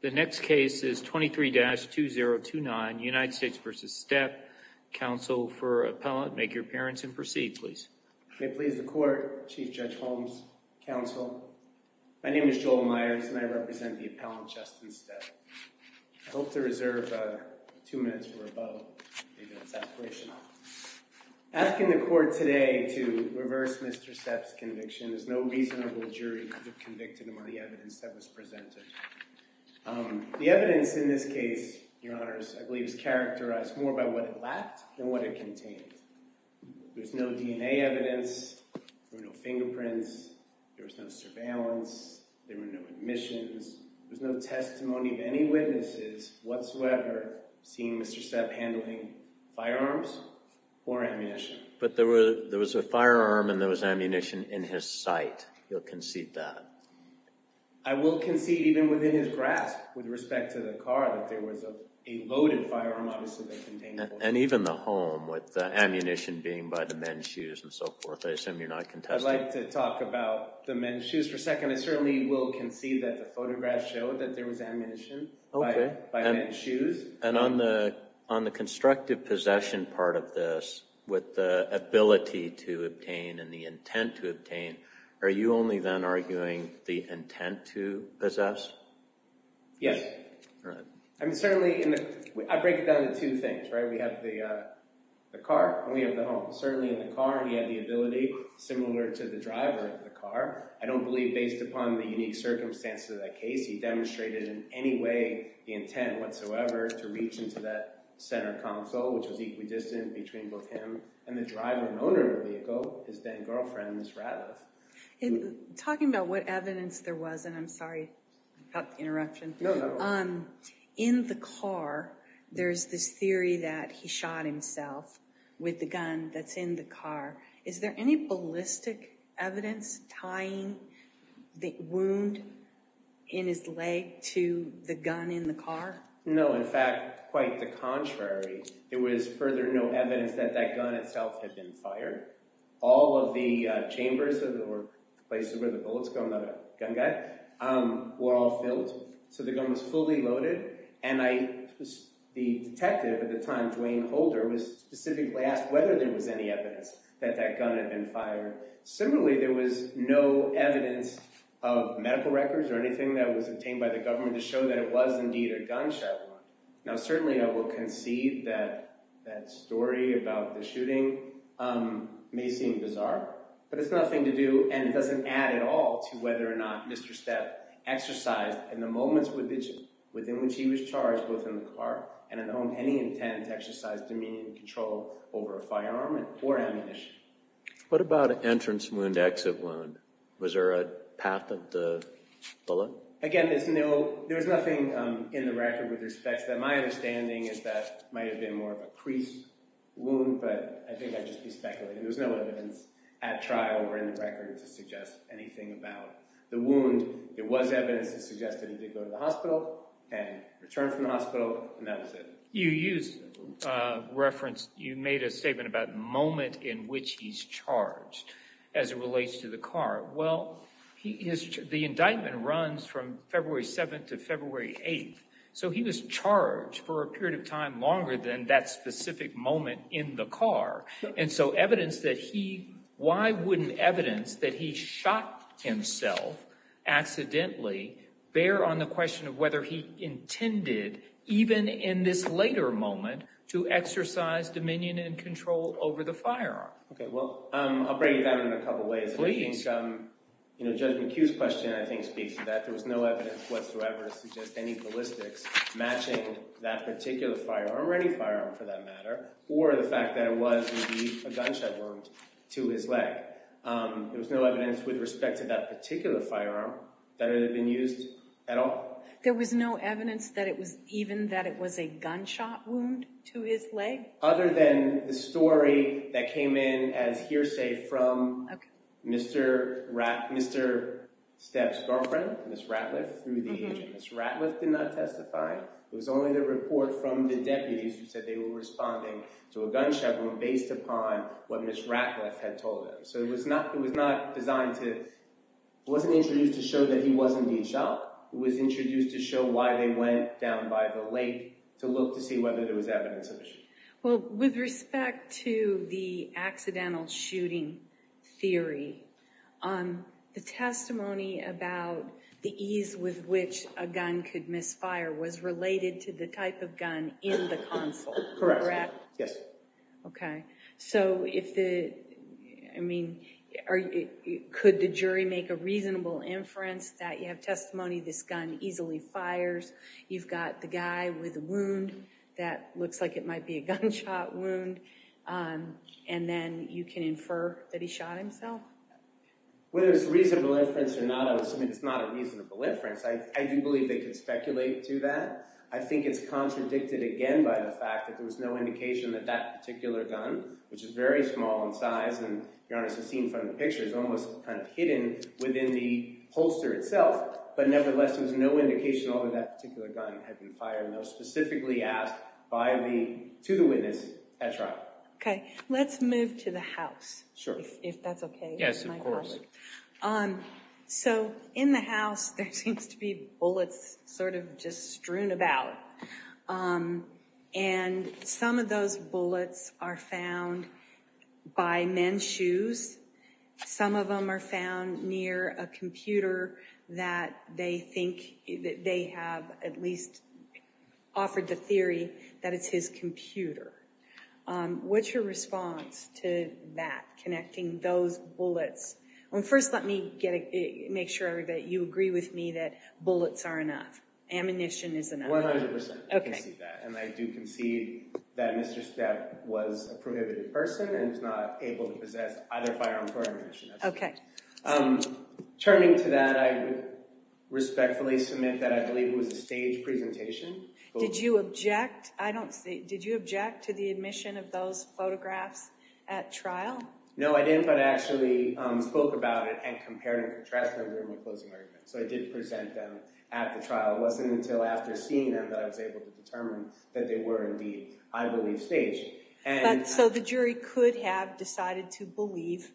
The next case is 23-2029 United States v. Stepp. Counsel for Appellant, make your appearance and proceed, please. May it please the Court, Chief Judge Holmes, Counsel. My name is Joel Myers and I represent the Appellant, Justin Stepp. I hope to reserve two minutes or above, maybe that's aspirational. Asking the Court today to reverse Mr. Stepp's conviction, there's no reasonable jury who could have convicted him on the evidence that was presented. The evidence in this case, Your Honors, I believe is characterized more by what it lacked than what it contained. There's no DNA evidence, there were no fingerprints, there was no surveillance, there were no admissions, there was no testimony of any witnesses whatsoever seeing Mr. Stepp handling firearms or ammunition. But there was a firearm and there was ammunition in his sight. You'll concede that? I will concede even within his grasp with respect to the car that there was a loaded firearm obviously that contained more ammunition. And even the home with the ammunition being by the men's shoes and so forth. I assume you're not contesting? I would like to talk about the men's shoes for a second. I certainly will concede that the photographs show that there was ammunition by men's shoes. And on the constructive possession part of this, with the ability to obtain and the intent to obtain, are you only then arguing the intent to possess? Yes. All right. Certainly, I break it down into two things. We have the car and we have the home. Certainly in the car he had the ability, similar to the driver of the car, I don't believe based upon the unique circumstances of that case, he demonstrated in any way the intent whatsoever to reach into that center console, which was equidistant between both him and the driver and owner of the vehicle, his then girlfriend, Ms. Ratliff. Talking about what evidence there was, and I'm sorry about the interruption. No, no. In the car, there's this theory that he shot himself with the gun that's in the car. Is there any ballistic evidence tying the wound in his leg to the gun in the car? No. In fact, quite the contrary. There was further no evidence that that gun itself had been fired. All of the chambers or places where the bullets come out of the gun guide were all filled, so the gun was fully loaded. And the detective at the time, Duane Holder, was specifically asked whether there was any evidence that that gun had been fired. Similarly, there was no evidence of medical records or anything that was obtained by the government to show that it was indeed a gunshot wound. Now, certainly I will concede that that story about the shooting may seem bizarre, but it's nothing to do and it doesn't add at all to whether or not Mr. Stepp exercised, in the moments within which he was charged, both in the car and in the home, any intent to exercise dominion and control over a firearm or ammunition. What about an entrance wound, exit wound? Was there a path of the bullet? Again, there was nothing in the record with respect to that. My understanding is that it might have been more of a crease wound, but I think I'd just be speculating. There was no evidence at trial or in the record to suggest anything about the wound. There was evidence to suggest that he did go to the hospital and return from the hospital, and that was it. You made a statement about the moment in which he's charged as it relates to the car. Well, the indictment runs from February 7th to February 8th, so he was charged for a period of time longer than that specific moment in the car. Why wouldn't evidence that he shot himself accidentally bear on the question of whether he intended, even in this later moment, to exercise dominion and control over the firearm? Okay, well, I'll break it down in a couple ways. I think Judge McHugh's question, I think, speaks to that. There was no evidence whatsoever to suggest any ballistics matching that particular firearm, or any firearm for that matter, or the fact that it was indeed a gunshot wound to his leg. There was no evidence with respect to that particular firearm that it had been used at all. There was no evidence that it was even that it was a gunshot wound to his leg? Other than the story that came in as hearsay from Mr. Stebb's girlfriend, Ms. Ratliff, through the agent. Ms. Ratliff did not testify. It was only the report from the deputies who said they were responding to a gunshot wound based upon what Ms. Ratliff had told them. So it was not designed to, it wasn't introduced to show that he was indeed shot. It was introduced to show why they went down by the lake to look to see whether there was evidence of it. Well, with respect to the accidental shooting theory, the testimony about the ease with which a gun could misfire was related to the type of gun in the console, correct? Yes. Okay. So if the, I mean, could the jury make a reasonable inference that you have testimony this gun easily fires? You've got the guy with the wound that looks like it might be a gunshot wound, and then you can infer that he shot himself? Whether it's a reasonable inference or not, I would assume it's not a reasonable inference. I do believe they could speculate to that. I think it's contradicted again by the fact that there was no indication that that particular gun, which is very small in size and, to be honest, as seen from the picture, is almost kind of hidden within the holster itself. But nevertheless, there was no indication that that particular gun had been fired. It was specifically asked to the witness at trial. Okay. Let's move to the house. Sure. Yes, of course. So in the house, there seems to be bullets sort of just strewn about. And some of those bullets are found by men's shoes. Some of them are found near a computer that they think that they have at least offered the theory that it's his computer. What's your response to that, connecting those bullets? First, let me make sure that you agree with me that bullets are enough. Ammunition is enough. One hundred percent. Okay. And I do concede that Mr. Stebb was a prohibited person and was not able to possess either firearm or ammunition. Okay. Turning to that, I respectfully submit that I believe it was a staged presentation. Did you object to the admission of those photographs at trial? No, I didn't, but I actually spoke about it and compared and contrasted them during my closing argument. So I did present them at the trial. It wasn't until after seeing them that I was able to determine that they were indeed, I believe, staged. So the jury could have decided to believe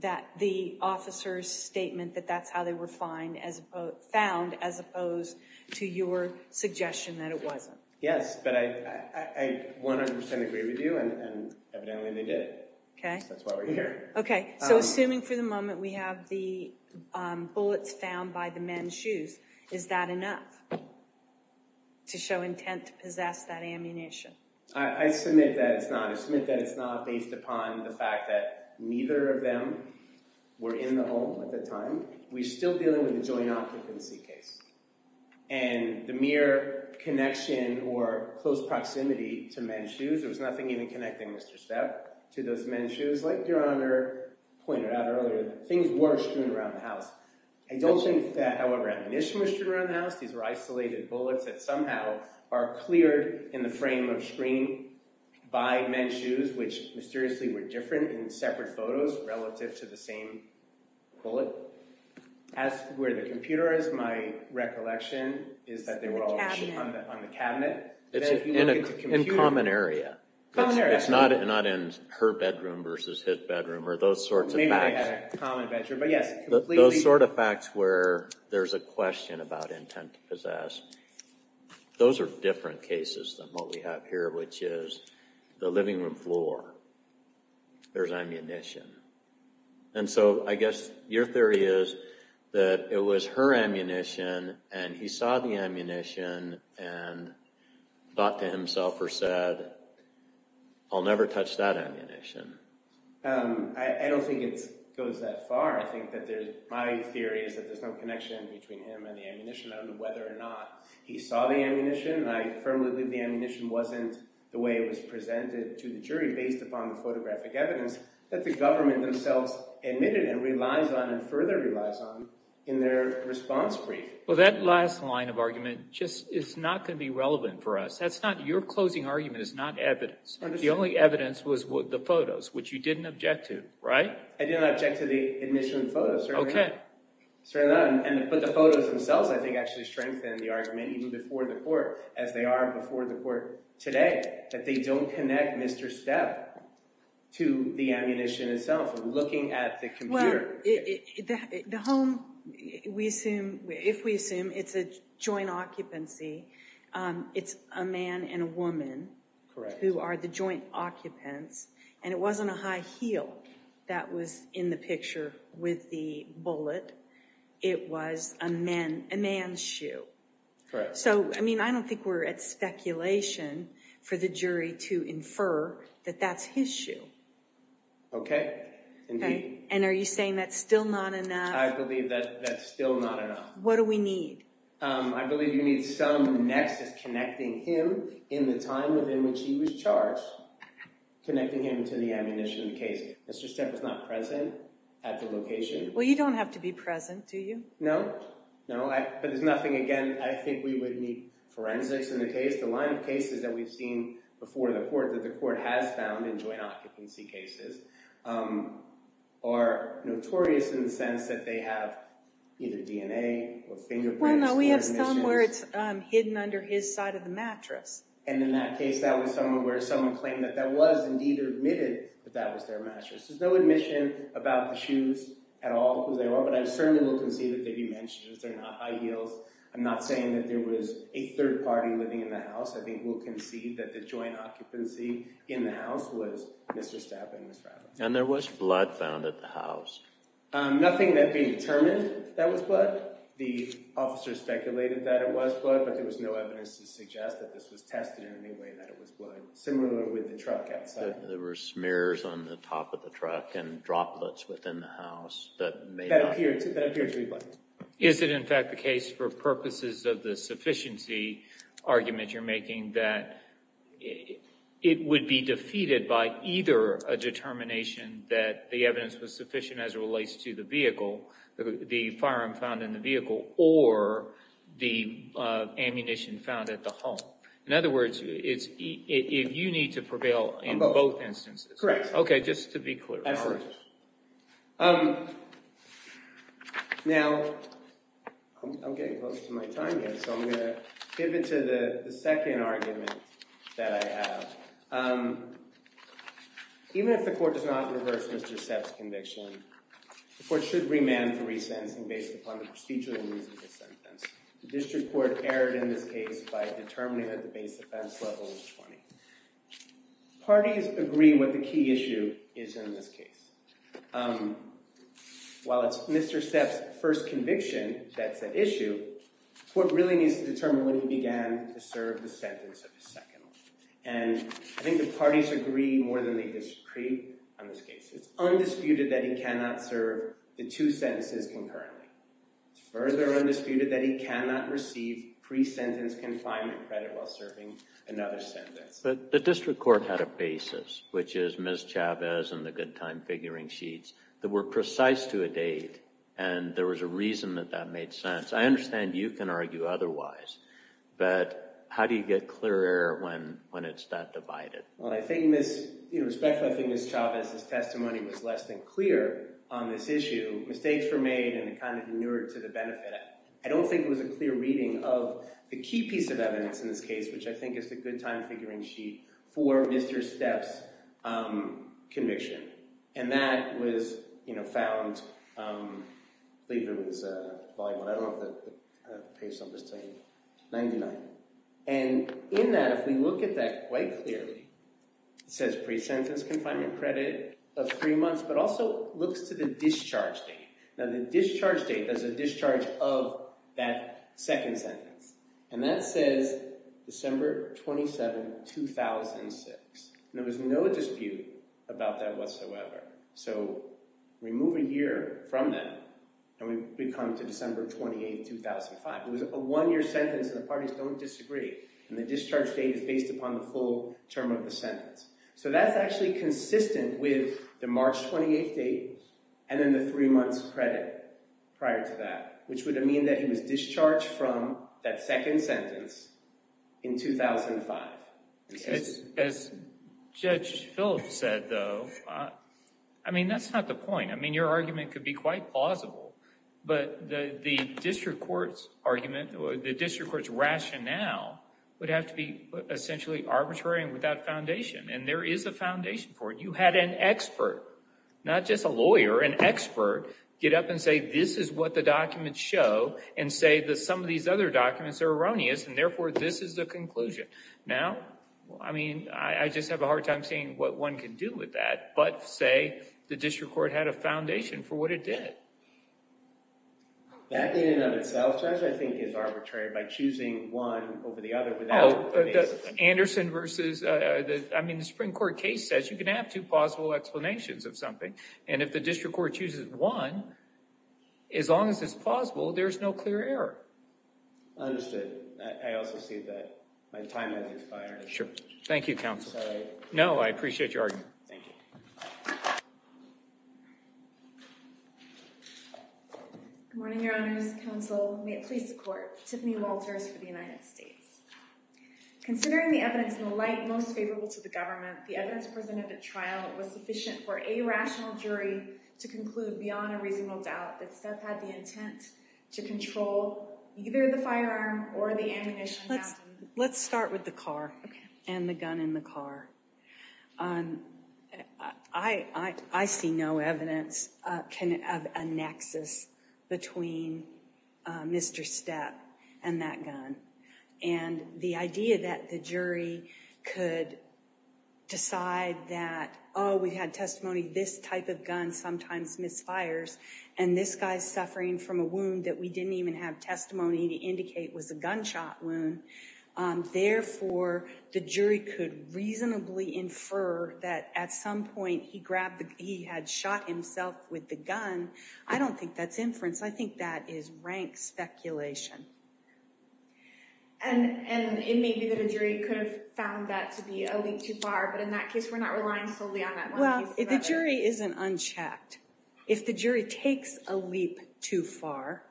that the officer's statement that that's how they were found as opposed to your suggestion that it wasn't? Yes, but I 100 percent agree with you and evidently they did. Okay. That's why we're here. Okay. So assuming for the moment we have the bullets found by the men's shoes, is that enough to show intent to possess that ammunition? I submit that it's not. I submit that it's not based upon the fact that neither of them were in the home at the time. We're still dealing with a joint occupancy case. And the mere connection or close proximity to men's shoes, there was nothing even connecting Mr. Stebb to those men's shoes. Like Your Honor pointed out earlier, things were strewn around the house. I don't think that, however, ammunition was strewn around the house. These were isolated bullets that somehow are cleared in the frame of screen by men's shoes, which mysteriously were different in separate photos relative to the same bullet. As to where the computer is, my recollection is that they were all on the cabinet. In a common area. It's not in her bedroom versus his bedroom or those sorts of things. Those sort of facts where there's a question about intent to possess, those are different cases than what we have here, which is the living room floor. There's ammunition. And so I guess your theory is that it was her ammunition and he saw the ammunition and thought to himself or said, I'll never touch that ammunition. I don't think it goes that far. I think that my theory is that there's no connection between him and the ammunition. I don't know whether or not he saw the ammunition. I firmly believe the ammunition wasn't the way it was presented to the jury based upon the photographic evidence that the government themselves admitted and relies on and further relies on in their response brief. Well, that last line of argument just is not going to be relevant for us. That's not your closing argument. It's not evidence. The only evidence was the photos, which you didn't object to, right? I didn't object to the admission photos, certainly not. But the photos themselves, I think, actually strengthen the argument even before the court, as they are before the court today, that they don't connect Mr. Stepp to the ammunition itself, looking at the computer. The home, if we assume it's a joint occupancy, it's a man and a woman who are the joint occupants. And it wasn't a high heel that was in the picture with the bullet. It was a man's shoe. So, I mean, I don't think we're at speculation for the jury to infer that that's his shoe. Okay. And are you saying that's still not enough? I believe that that's still not enough. What do we need? I believe you need some nexus connecting him in the time within which he was charged, connecting him to the ammunition case. Mr. Stepp was not present at the location. Well, you don't have to be present, do you? No, no. But there's nothing, again, I think we would need forensics in the case. The line of cases that we've seen before the court, that the court has found in joint occupancy cases, are notorious in the sense that they have either DNA or fingerprints or admissions. Well, no, we have some where it's hidden under his side of the mattress. And in that case, that was someone where someone claimed that that was indeed admitted that that was their mattress. There's no admission about the shoes at all, who they were, but I certainly will concede that they do mention that they're not high heels. I'm not saying that there was a third party living in the house. I think we'll concede that the joint occupancy in the house was Mr. Stepp and Ms. Robinson. And there was blood found at the house? Nothing had been determined that was blood. The officers speculated that it was blood, but there was no evidence to suggest that this was tested in any way that it was blood. Similar with the truck outside. There were smears on the top of the truck and droplets within the house that may have… That appear to be blood. Is it in fact the case for purposes of the sufficiency argument you're making that it would be defeated by either a determination that the evidence was sufficient as it relates to the vehicle, the firearm found in the vehicle, or the ammunition found at the home? In other words, you need to prevail in both instances. Correct. Okay, just to be clear. Now, I'm getting close to my time here, so I'm going to pivot to the second argument that I have. Even if the court does not reverse Mr. Stepp's conviction, the court should remand for resentencing based upon the procedural reasons of the sentence. The district court erred in this case by determining that the base offense level was 20. Parties agree what the key issue is in this case. While it's Mr. Stepp's first conviction that's at issue, the court really needs to determine when he began to serve the sentence of his second law. And I think the parties agree more than they disagree on this case. It's undisputed that he cannot serve the two sentences concurrently. It's further undisputed that he cannot receive pre-sentence confinement credit while serving another sentence. But the district court had a basis, which is Ms. Chavez and the good time figuring sheets, that were precise to a date. And there was a reason that that made sense. I understand you can argue otherwise, but how do you get clearer when it's that divided? Well, I think Ms., you know, respectfully, I think Ms. Chavez's testimony was less than clear on this issue. Mistakes were made and it kind of inured to the benefit. I don't think it was a clear reading of the key piece of evidence in this case, which I think is the good time figuring sheet for Mr. Stepp's conviction. And that was, you know, found, I believe it was volume one, I don't know if the page numbers tell you, 99. And in that, if we look at that quite clearly, it says pre-sentence confinement credit of three months, but also looks to the discharge date. Now the discharge date, there's a discharge of that second sentence. And that says December 27, 2006. And there was no dispute about that whatsoever. So remove a year from that and we come to December 28, 2005. It was a one year sentence and the parties don't disagree. And the discharge date is based upon the full term of the sentence. So that's actually consistent with the March 28 date and then the three months credit prior to that. Which would mean that he was discharged from that second sentence in 2005. As Judge Phillips said though, I mean that's not the point. I mean your argument could be quite plausible. But the district court's argument, the district court's rationale would have to be essentially arbitrary and without foundation. And there is a foundation for it. You had an expert, not just a lawyer, an expert, get up and say this is what the documents show. And say that some of these other documents are erroneous and therefore this is the conclusion. Now, I mean, I just have a hard time seeing what one can do with that. But say the district court had a foundation for what it did. That in and of itself, Judge, I think is arbitrary by choosing one over the other. Anderson versus, I mean the Supreme Court case says you can have two plausible explanations of something. And if the district court chooses one, as long as it's plausible, there's no clear error. Understood. I also see that my time has expired. Sure. Thank you, counsel. No, I appreciate your argument. Thank you. Good morning, your honors, counsel. May it please the court. Tiffany Walters for the United States. Considering the evidence in the light most favorable to the government, the evidence presented at trial was sufficient for a rational jury to conclude beyond a reasonable doubt that either the firearm or the ammunition. Let's start with the car and the gun in the car. I see no evidence of a nexus between Mr. Stepp and that gun. And the idea that the jury could decide that, oh, we had testimony this type of gun sometimes misfires. And this guy's suffering from a wound that we didn't even have testimony to indicate was a gunshot wound. Therefore, the jury could reasonably infer that at some point he grabbed, he had shot himself with the gun. I don't think that's inference. I think that is rank speculation. And it may be that a jury could have found that to be a leap too far. But in that case, we're not relying solely on that. Well, the jury isn't unchecked. If the jury takes a leap too far,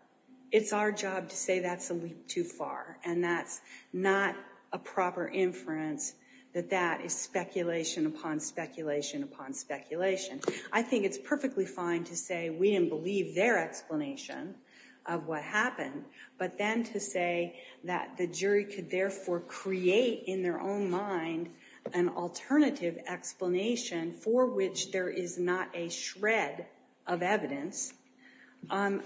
it's our job to say that's a leap too far. And that's not a proper inference that that is speculation upon speculation upon speculation. I think it's perfectly fine to say we didn't believe their explanation of what happened. But then to say that the jury could therefore create in their own mind an alternative explanation for which there is not a shred of evidence. I'm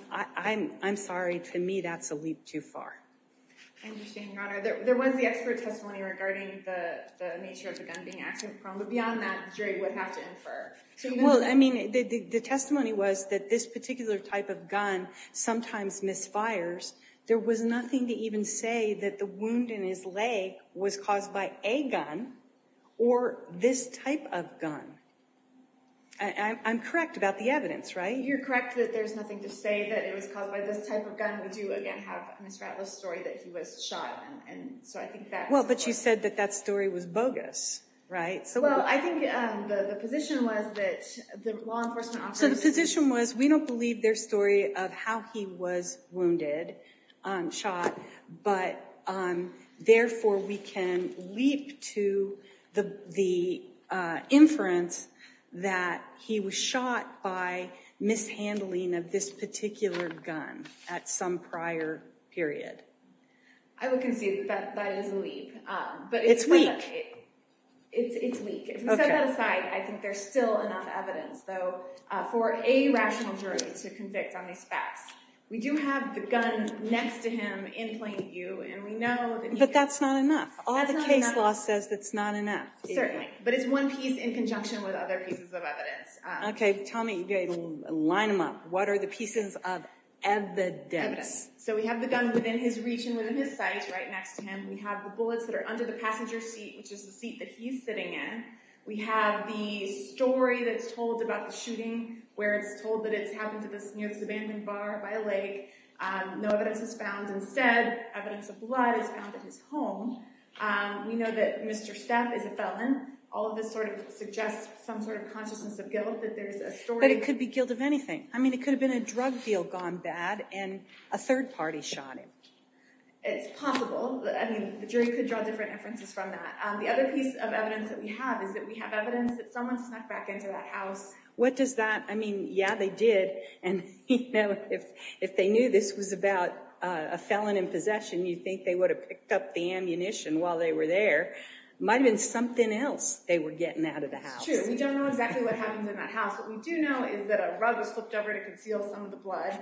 sorry. To me, that's a leap too far. I understand, Your Honor. There was the expert testimony regarding the nature of the gun being active. But beyond that, the jury would have to infer. Well, I mean, the testimony was that this particular type of gun sometimes misfires. There was nothing to even say that the wound in his leg was caused by a gun or this type of gun. I'm correct about the evidence, right? You're correct that there's nothing to say that it was caused by this type of gun. We do, again, have Ms. Ratliff's story that he was shot. And so I think that— Well, but you said that that story was bogus, right? Well, I think the position was that the law enforcement officers— So the position was we don't believe their story of how he was wounded, shot. But therefore, we can leap to the inference that he was shot by mishandling of this particular gun at some prior period. I would concede that that is a leap. It's weak. It's weak. If we set that aside, I think there's still enough evidence, though, for a rational jury to convict on these facts. We do have the gun next to him in plain view, and we know that he— But that's not enough. All the case law says that's not enough. Certainly. But it's one piece in conjunction with other pieces of evidence. Okay. Tell me. Line them up. What are the pieces of evidence? So we have the gun within his reach and within his sight, right next to him. We have the bullets that are under the passenger seat, which is the seat that he's sitting in. We have the story that's told about the shooting, where it's told that it's happened near this abandoned bar by a lake. No evidence is found. Instead, evidence of blood is found at his home. We know that Mr. Steff is a felon. All of this sort of suggests some sort of consciousness of guilt, that there's a story— But it could be guilt of anything. I mean, it could have been a drug deal gone bad and a third party shot him. It's possible. I mean, the jury could draw different inferences from that. The other piece of evidence that we have is that we have evidence that someone snuck back into that house. What does that—I mean, yeah, they did. And, you know, if they knew this was about a felon in possession, you'd think they would have picked up the ammunition while they were there. It might have been something else they were getting out of the house. It's true. We don't know exactly what happened in that house. What we do know is that a rug was flipped over to conceal some of the blood,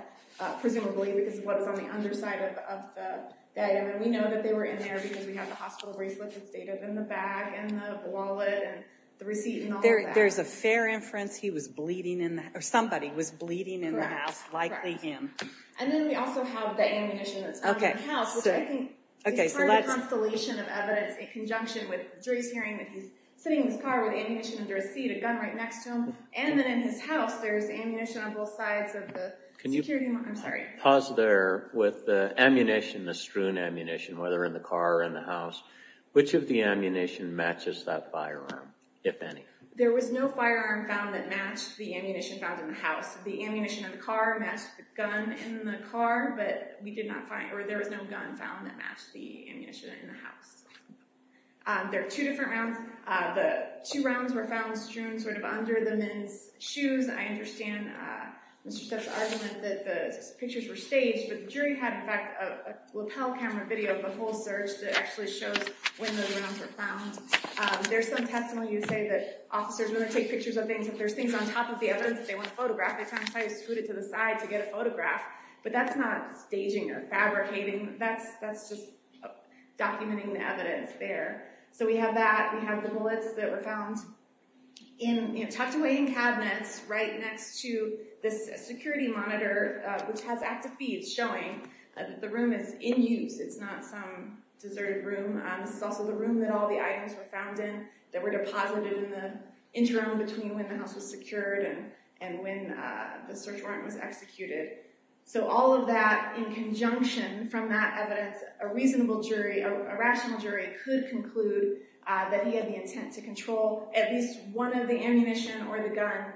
presumably because of what was on the underside of the item. We know that they were in there because we have the hospital bracelet that's dated in the bag and the wallet and the receipt and all of that. There's a fair inference he was bleeding in the—or somebody was bleeding in the house, likely him. Correct. And then we also have the ammunition that's under the house, which I think is part of the constellation of evidence in conjunction with the jury's hearing that he's sitting in his car with ammunition under his seat, a gun right next to him. And then in his house, there's ammunition on both sides of the security—I'm sorry. Pause there. With the ammunition, the strewn ammunition, whether in the car or in the house, which of the ammunition matches that firearm, if any? There was no firearm found that matched the ammunition found in the house. The ammunition in the car matched the gun in the car, but we did not find—or there was no gun found that matched the ammunition in the house. There are two different rounds. The two rounds were found strewn sort of under the men's shoes. I understand Mr. Steff's argument that the pictures were staged, but the jury had, in fact, a lapel camera video of the whole search that actually shows when the rounds were found. There's some testimony you say that officers want to take pictures of things. If there's things on top of the evidence that they want to photograph, they sometimes try to scoot it to the side to get a photograph, but that's not staging or fabricating. That's just documenting the evidence there. We have that. We have the bullets that were found tucked away in cabinets right next to this security monitor, which has active feeds showing that the room is in use. It's not some deserted room. This is also the room that all the items were found in that were deposited in the interim between when the house was secured and when the search warrant was executed. So all of that in conjunction from that evidence, a reasonable jury, a rational jury, could conclude that he had the intent to control at least one of the ammunition or the gun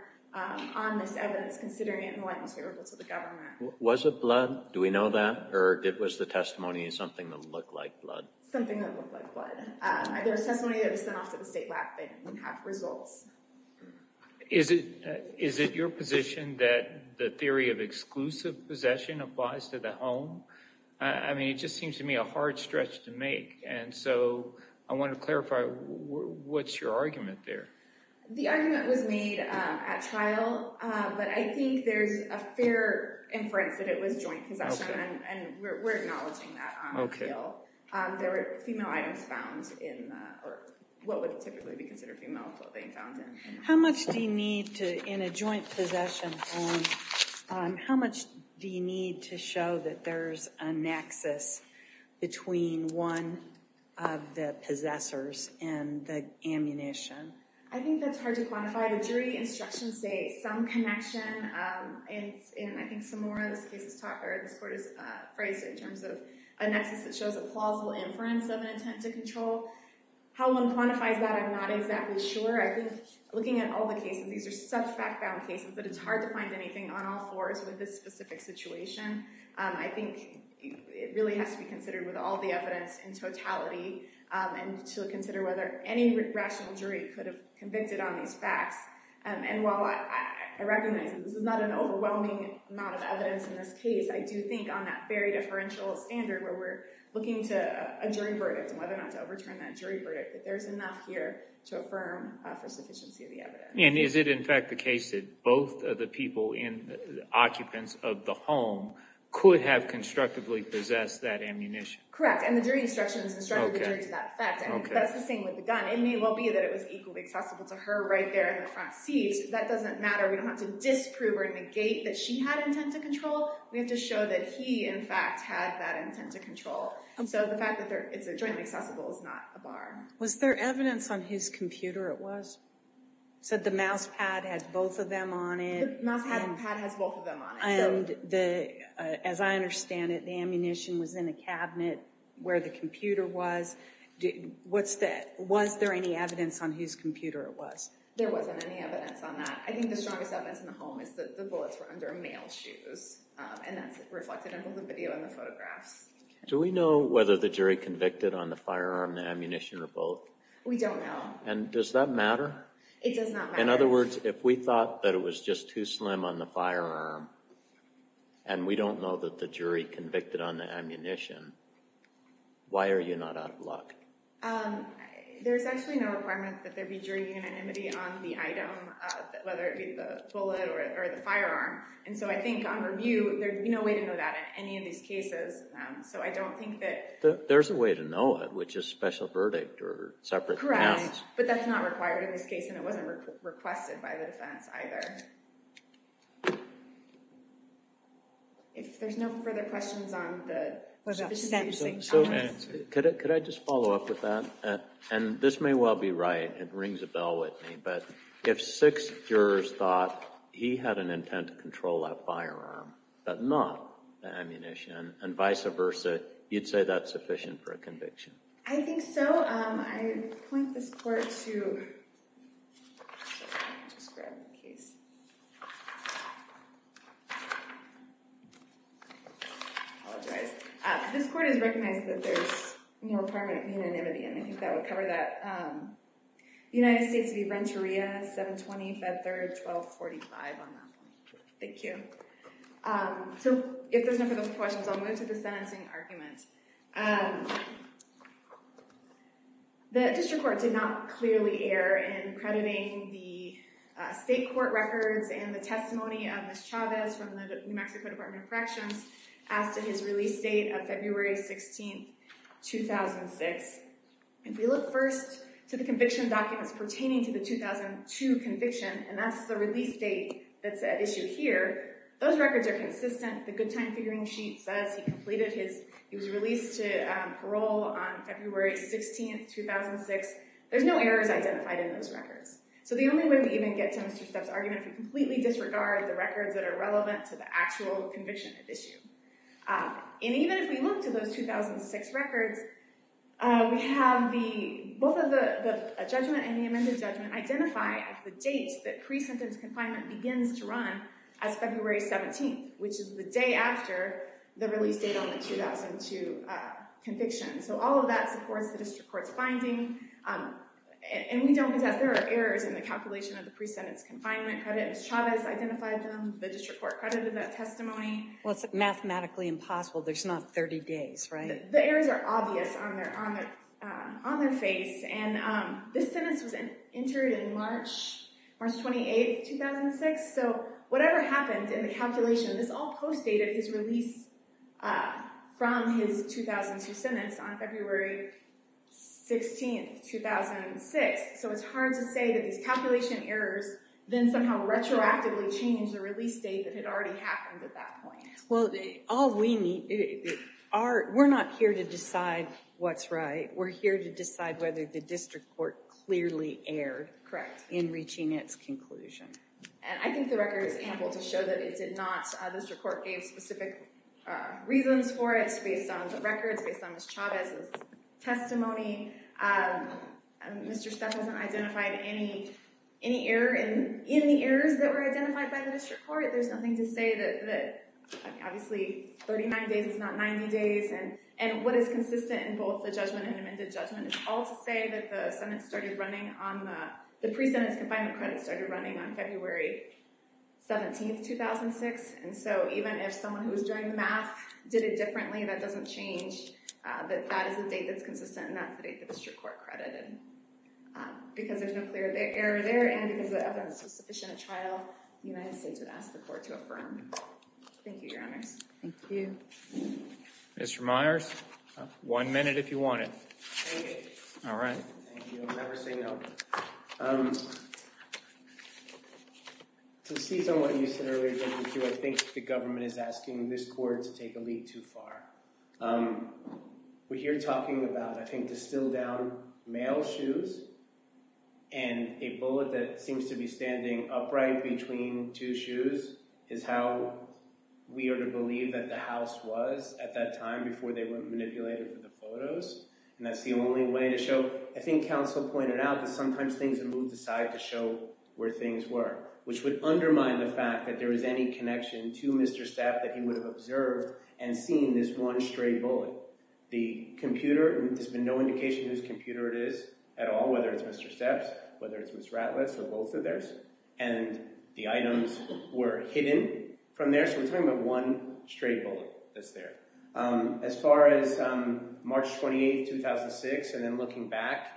on this evidence, considering it might be favorable to the government. Was it blood? Do we know that? Or was the testimony something that looked like blood? Something that looked like blood. There was testimony that was sent off to the state lab that didn't have results. Is it your position that the theory of exclusive possession applies to the home? I mean, it just seems to me a hard stretch to make. And so I want to clarify, what's your argument there? The argument was made at trial, but I think there's a fair inference that it was joint possession, and we're acknowledging that on appeal. There were female items found in what would typically be considered female. How much do you need to, in a joint possession home, how much do you need to show that there's a nexus between one of the possessors and the ammunition? I think that's hard to quantify. I have a jury instruction say some connection, and I think Samora, this court has phrased it in terms of a nexus that shows a plausible inference of an intent to control. How one quantifies that, I'm not exactly sure. I think looking at all the cases, these are such fact-bound cases that it's hard to find anything on all fours with this specific situation. I think it really has to be considered with all the evidence in totality, and to consider whether any rational jury could have convicted on these facts. And while I recognize that this is not an overwhelming amount of evidence in this case, I do think on that very differential standard where we're looking to a jury verdict and whether or not to overturn that jury verdict, that there's enough here to affirm for sufficiency of the evidence. And is it, in fact, the case that both of the people in the occupants of the home could have constructively possessed that ammunition? Correct, and the jury instruction is instructive to that fact, and that's the same with the gun. It may well be that it was equally accessible to her right there in the front seat. If that doesn't matter, we don't have to disprove or negate that she had intent to control. We have to show that he, in fact, had that intent to control. So the fact that it's jointly accessible is not a bar. Was there evidence on his computer it was? You said the mouse pad had both of them on it. The mouse pad has both of them on it. And as I understand it, the ammunition was in a cabinet where the computer was. Was there any evidence on whose computer it was? There wasn't any evidence on that. I think the strongest evidence in the home is that the bullets were under male shoes, and that's reflected in both the video and the photographs. Do we know whether the jury convicted on the firearm, the ammunition, or both? We don't know. And does that matter? It does not matter. In other words, if we thought that it was just too slim on the firearm, and we don't know that the jury convicted on the ammunition, why are you not out of luck? There's actually no requirement that there be jury unanimity on the item, whether it be the bullet or the firearm. And so I think on review, there's no way to know that in any of these cases. So I don't think that— There's a way to know it, which is special verdict or separate counts. Correct, but that's not required in this case, and it wasn't requested by the defense either. If there's no further questions on the sentencing— Could I just follow up with that? And this may well be right, it rings a bell with me, but if six jurors thought he had an intent to control that firearm but not the ammunition, and vice versa, you'd say that's sufficient for a conviction? I think so. I point this court to— I apologize. This court has recognized that there's no requirement of unanimity, and I think that would cover that. The United States would be Brenteria, 720, Fed Third, 1245 on that one. Thank you. So if there's no further questions, I'll move to the sentencing argument. The district court did not clearly err in crediting the state court records and the testimony of Ms. Chavez from the New Mexico Department of Corrections as to his release date of February 16, 2006. If we look first to the conviction documents pertaining to the 2002 conviction, and that's the release date that's at issue here, those records are consistent. The good time figuring sheet says he was released to parole on February 16, 2006. There's no errors identified in those records. So the only way we even get to Mr. Stubbs' argument is if we completely disregard the records that are relevant to the actual conviction at issue. And even if we look to those 2006 records, we have both of the judgment and the amended judgment identify the date that pre-sentence confinement begins to run as February 17, which is the day after the release date on the 2002 conviction. So all of that supports the district court's finding, and we don't contest there are errors in the calculation of the pre-sentence confinement credit. Ms. Chavez identified them. The district court credited that testimony. Well, it's mathematically impossible. There's not 30 days, right? The errors are obvious on their face. And this sentence was entered in March 28, 2006. So whatever happened in the calculation, this all postdated his release from his 2002 sentence on February 16, 2006. So it's hard to say that these calculation errors then somehow retroactively changed the release date that had already happened at that point. Well, we're not here to decide what's right. We're here to decide whether the district court clearly erred in reaching its conclusion. And I think the record is ample to show that it did not. The district court gave specific reasons for it based on the records, based on Ms. Chavez's testimony. Mr. Steffels identified any error in the errors that were identified by the district court. There's nothing to say that obviously 39 days is not 90 days. And what is consistent in both the judgment and amended judgment is all to say that the sentence started running on the pre-sentence confinement credit started running on February 17, 2006. And so even if someone who was doing the math did it differently, that doesn't change. But that is a date that's consistent enough that the district court credited because there's no clear error there. And because the evidence was sufficient at trial, the United States would ask the court to affirm. Thank you, Your Honors. Thank you. Mr. Myers, one minute if you want it. Thank you. All right. Thank you. I'll never say no. To cease on what you said earlier, Judge McHugh, I think the government is asking this court to take a lead too far. We're here talking about, I think, to still down male shoes. And a bullet that seems to be standing upright between two shoes is how we are to believe that the house was at that time before they were manipulated for the photos. And that's the only way to show. I think counsel pointed out that sometimes things are moved aside to show where things were, which would undermine the fact that there was any connection to Mr. Stepp that he would have observed and seen this one straight bullet. The computer, there's been no indication whose computer it is at all, whether it's Mr. Stepp's, whether it's Ms. Ratliff's or both of theirs. And the items were hidden from there. So we're talking about one straight bullet that's there. As far as March 28, 2006, and then looking back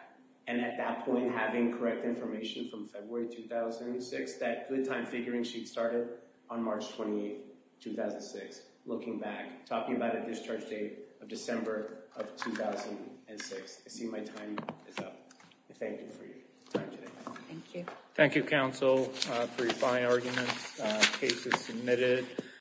and at that point having correct information from February 2006, that good time figuring sheet started on March 28, 2006. Looking back, talking about a discharge date of December of 2006. I see my time is up. Thank you for your time today. Thank you. Thank you, counsel, for your fine arguments. Case is submitted.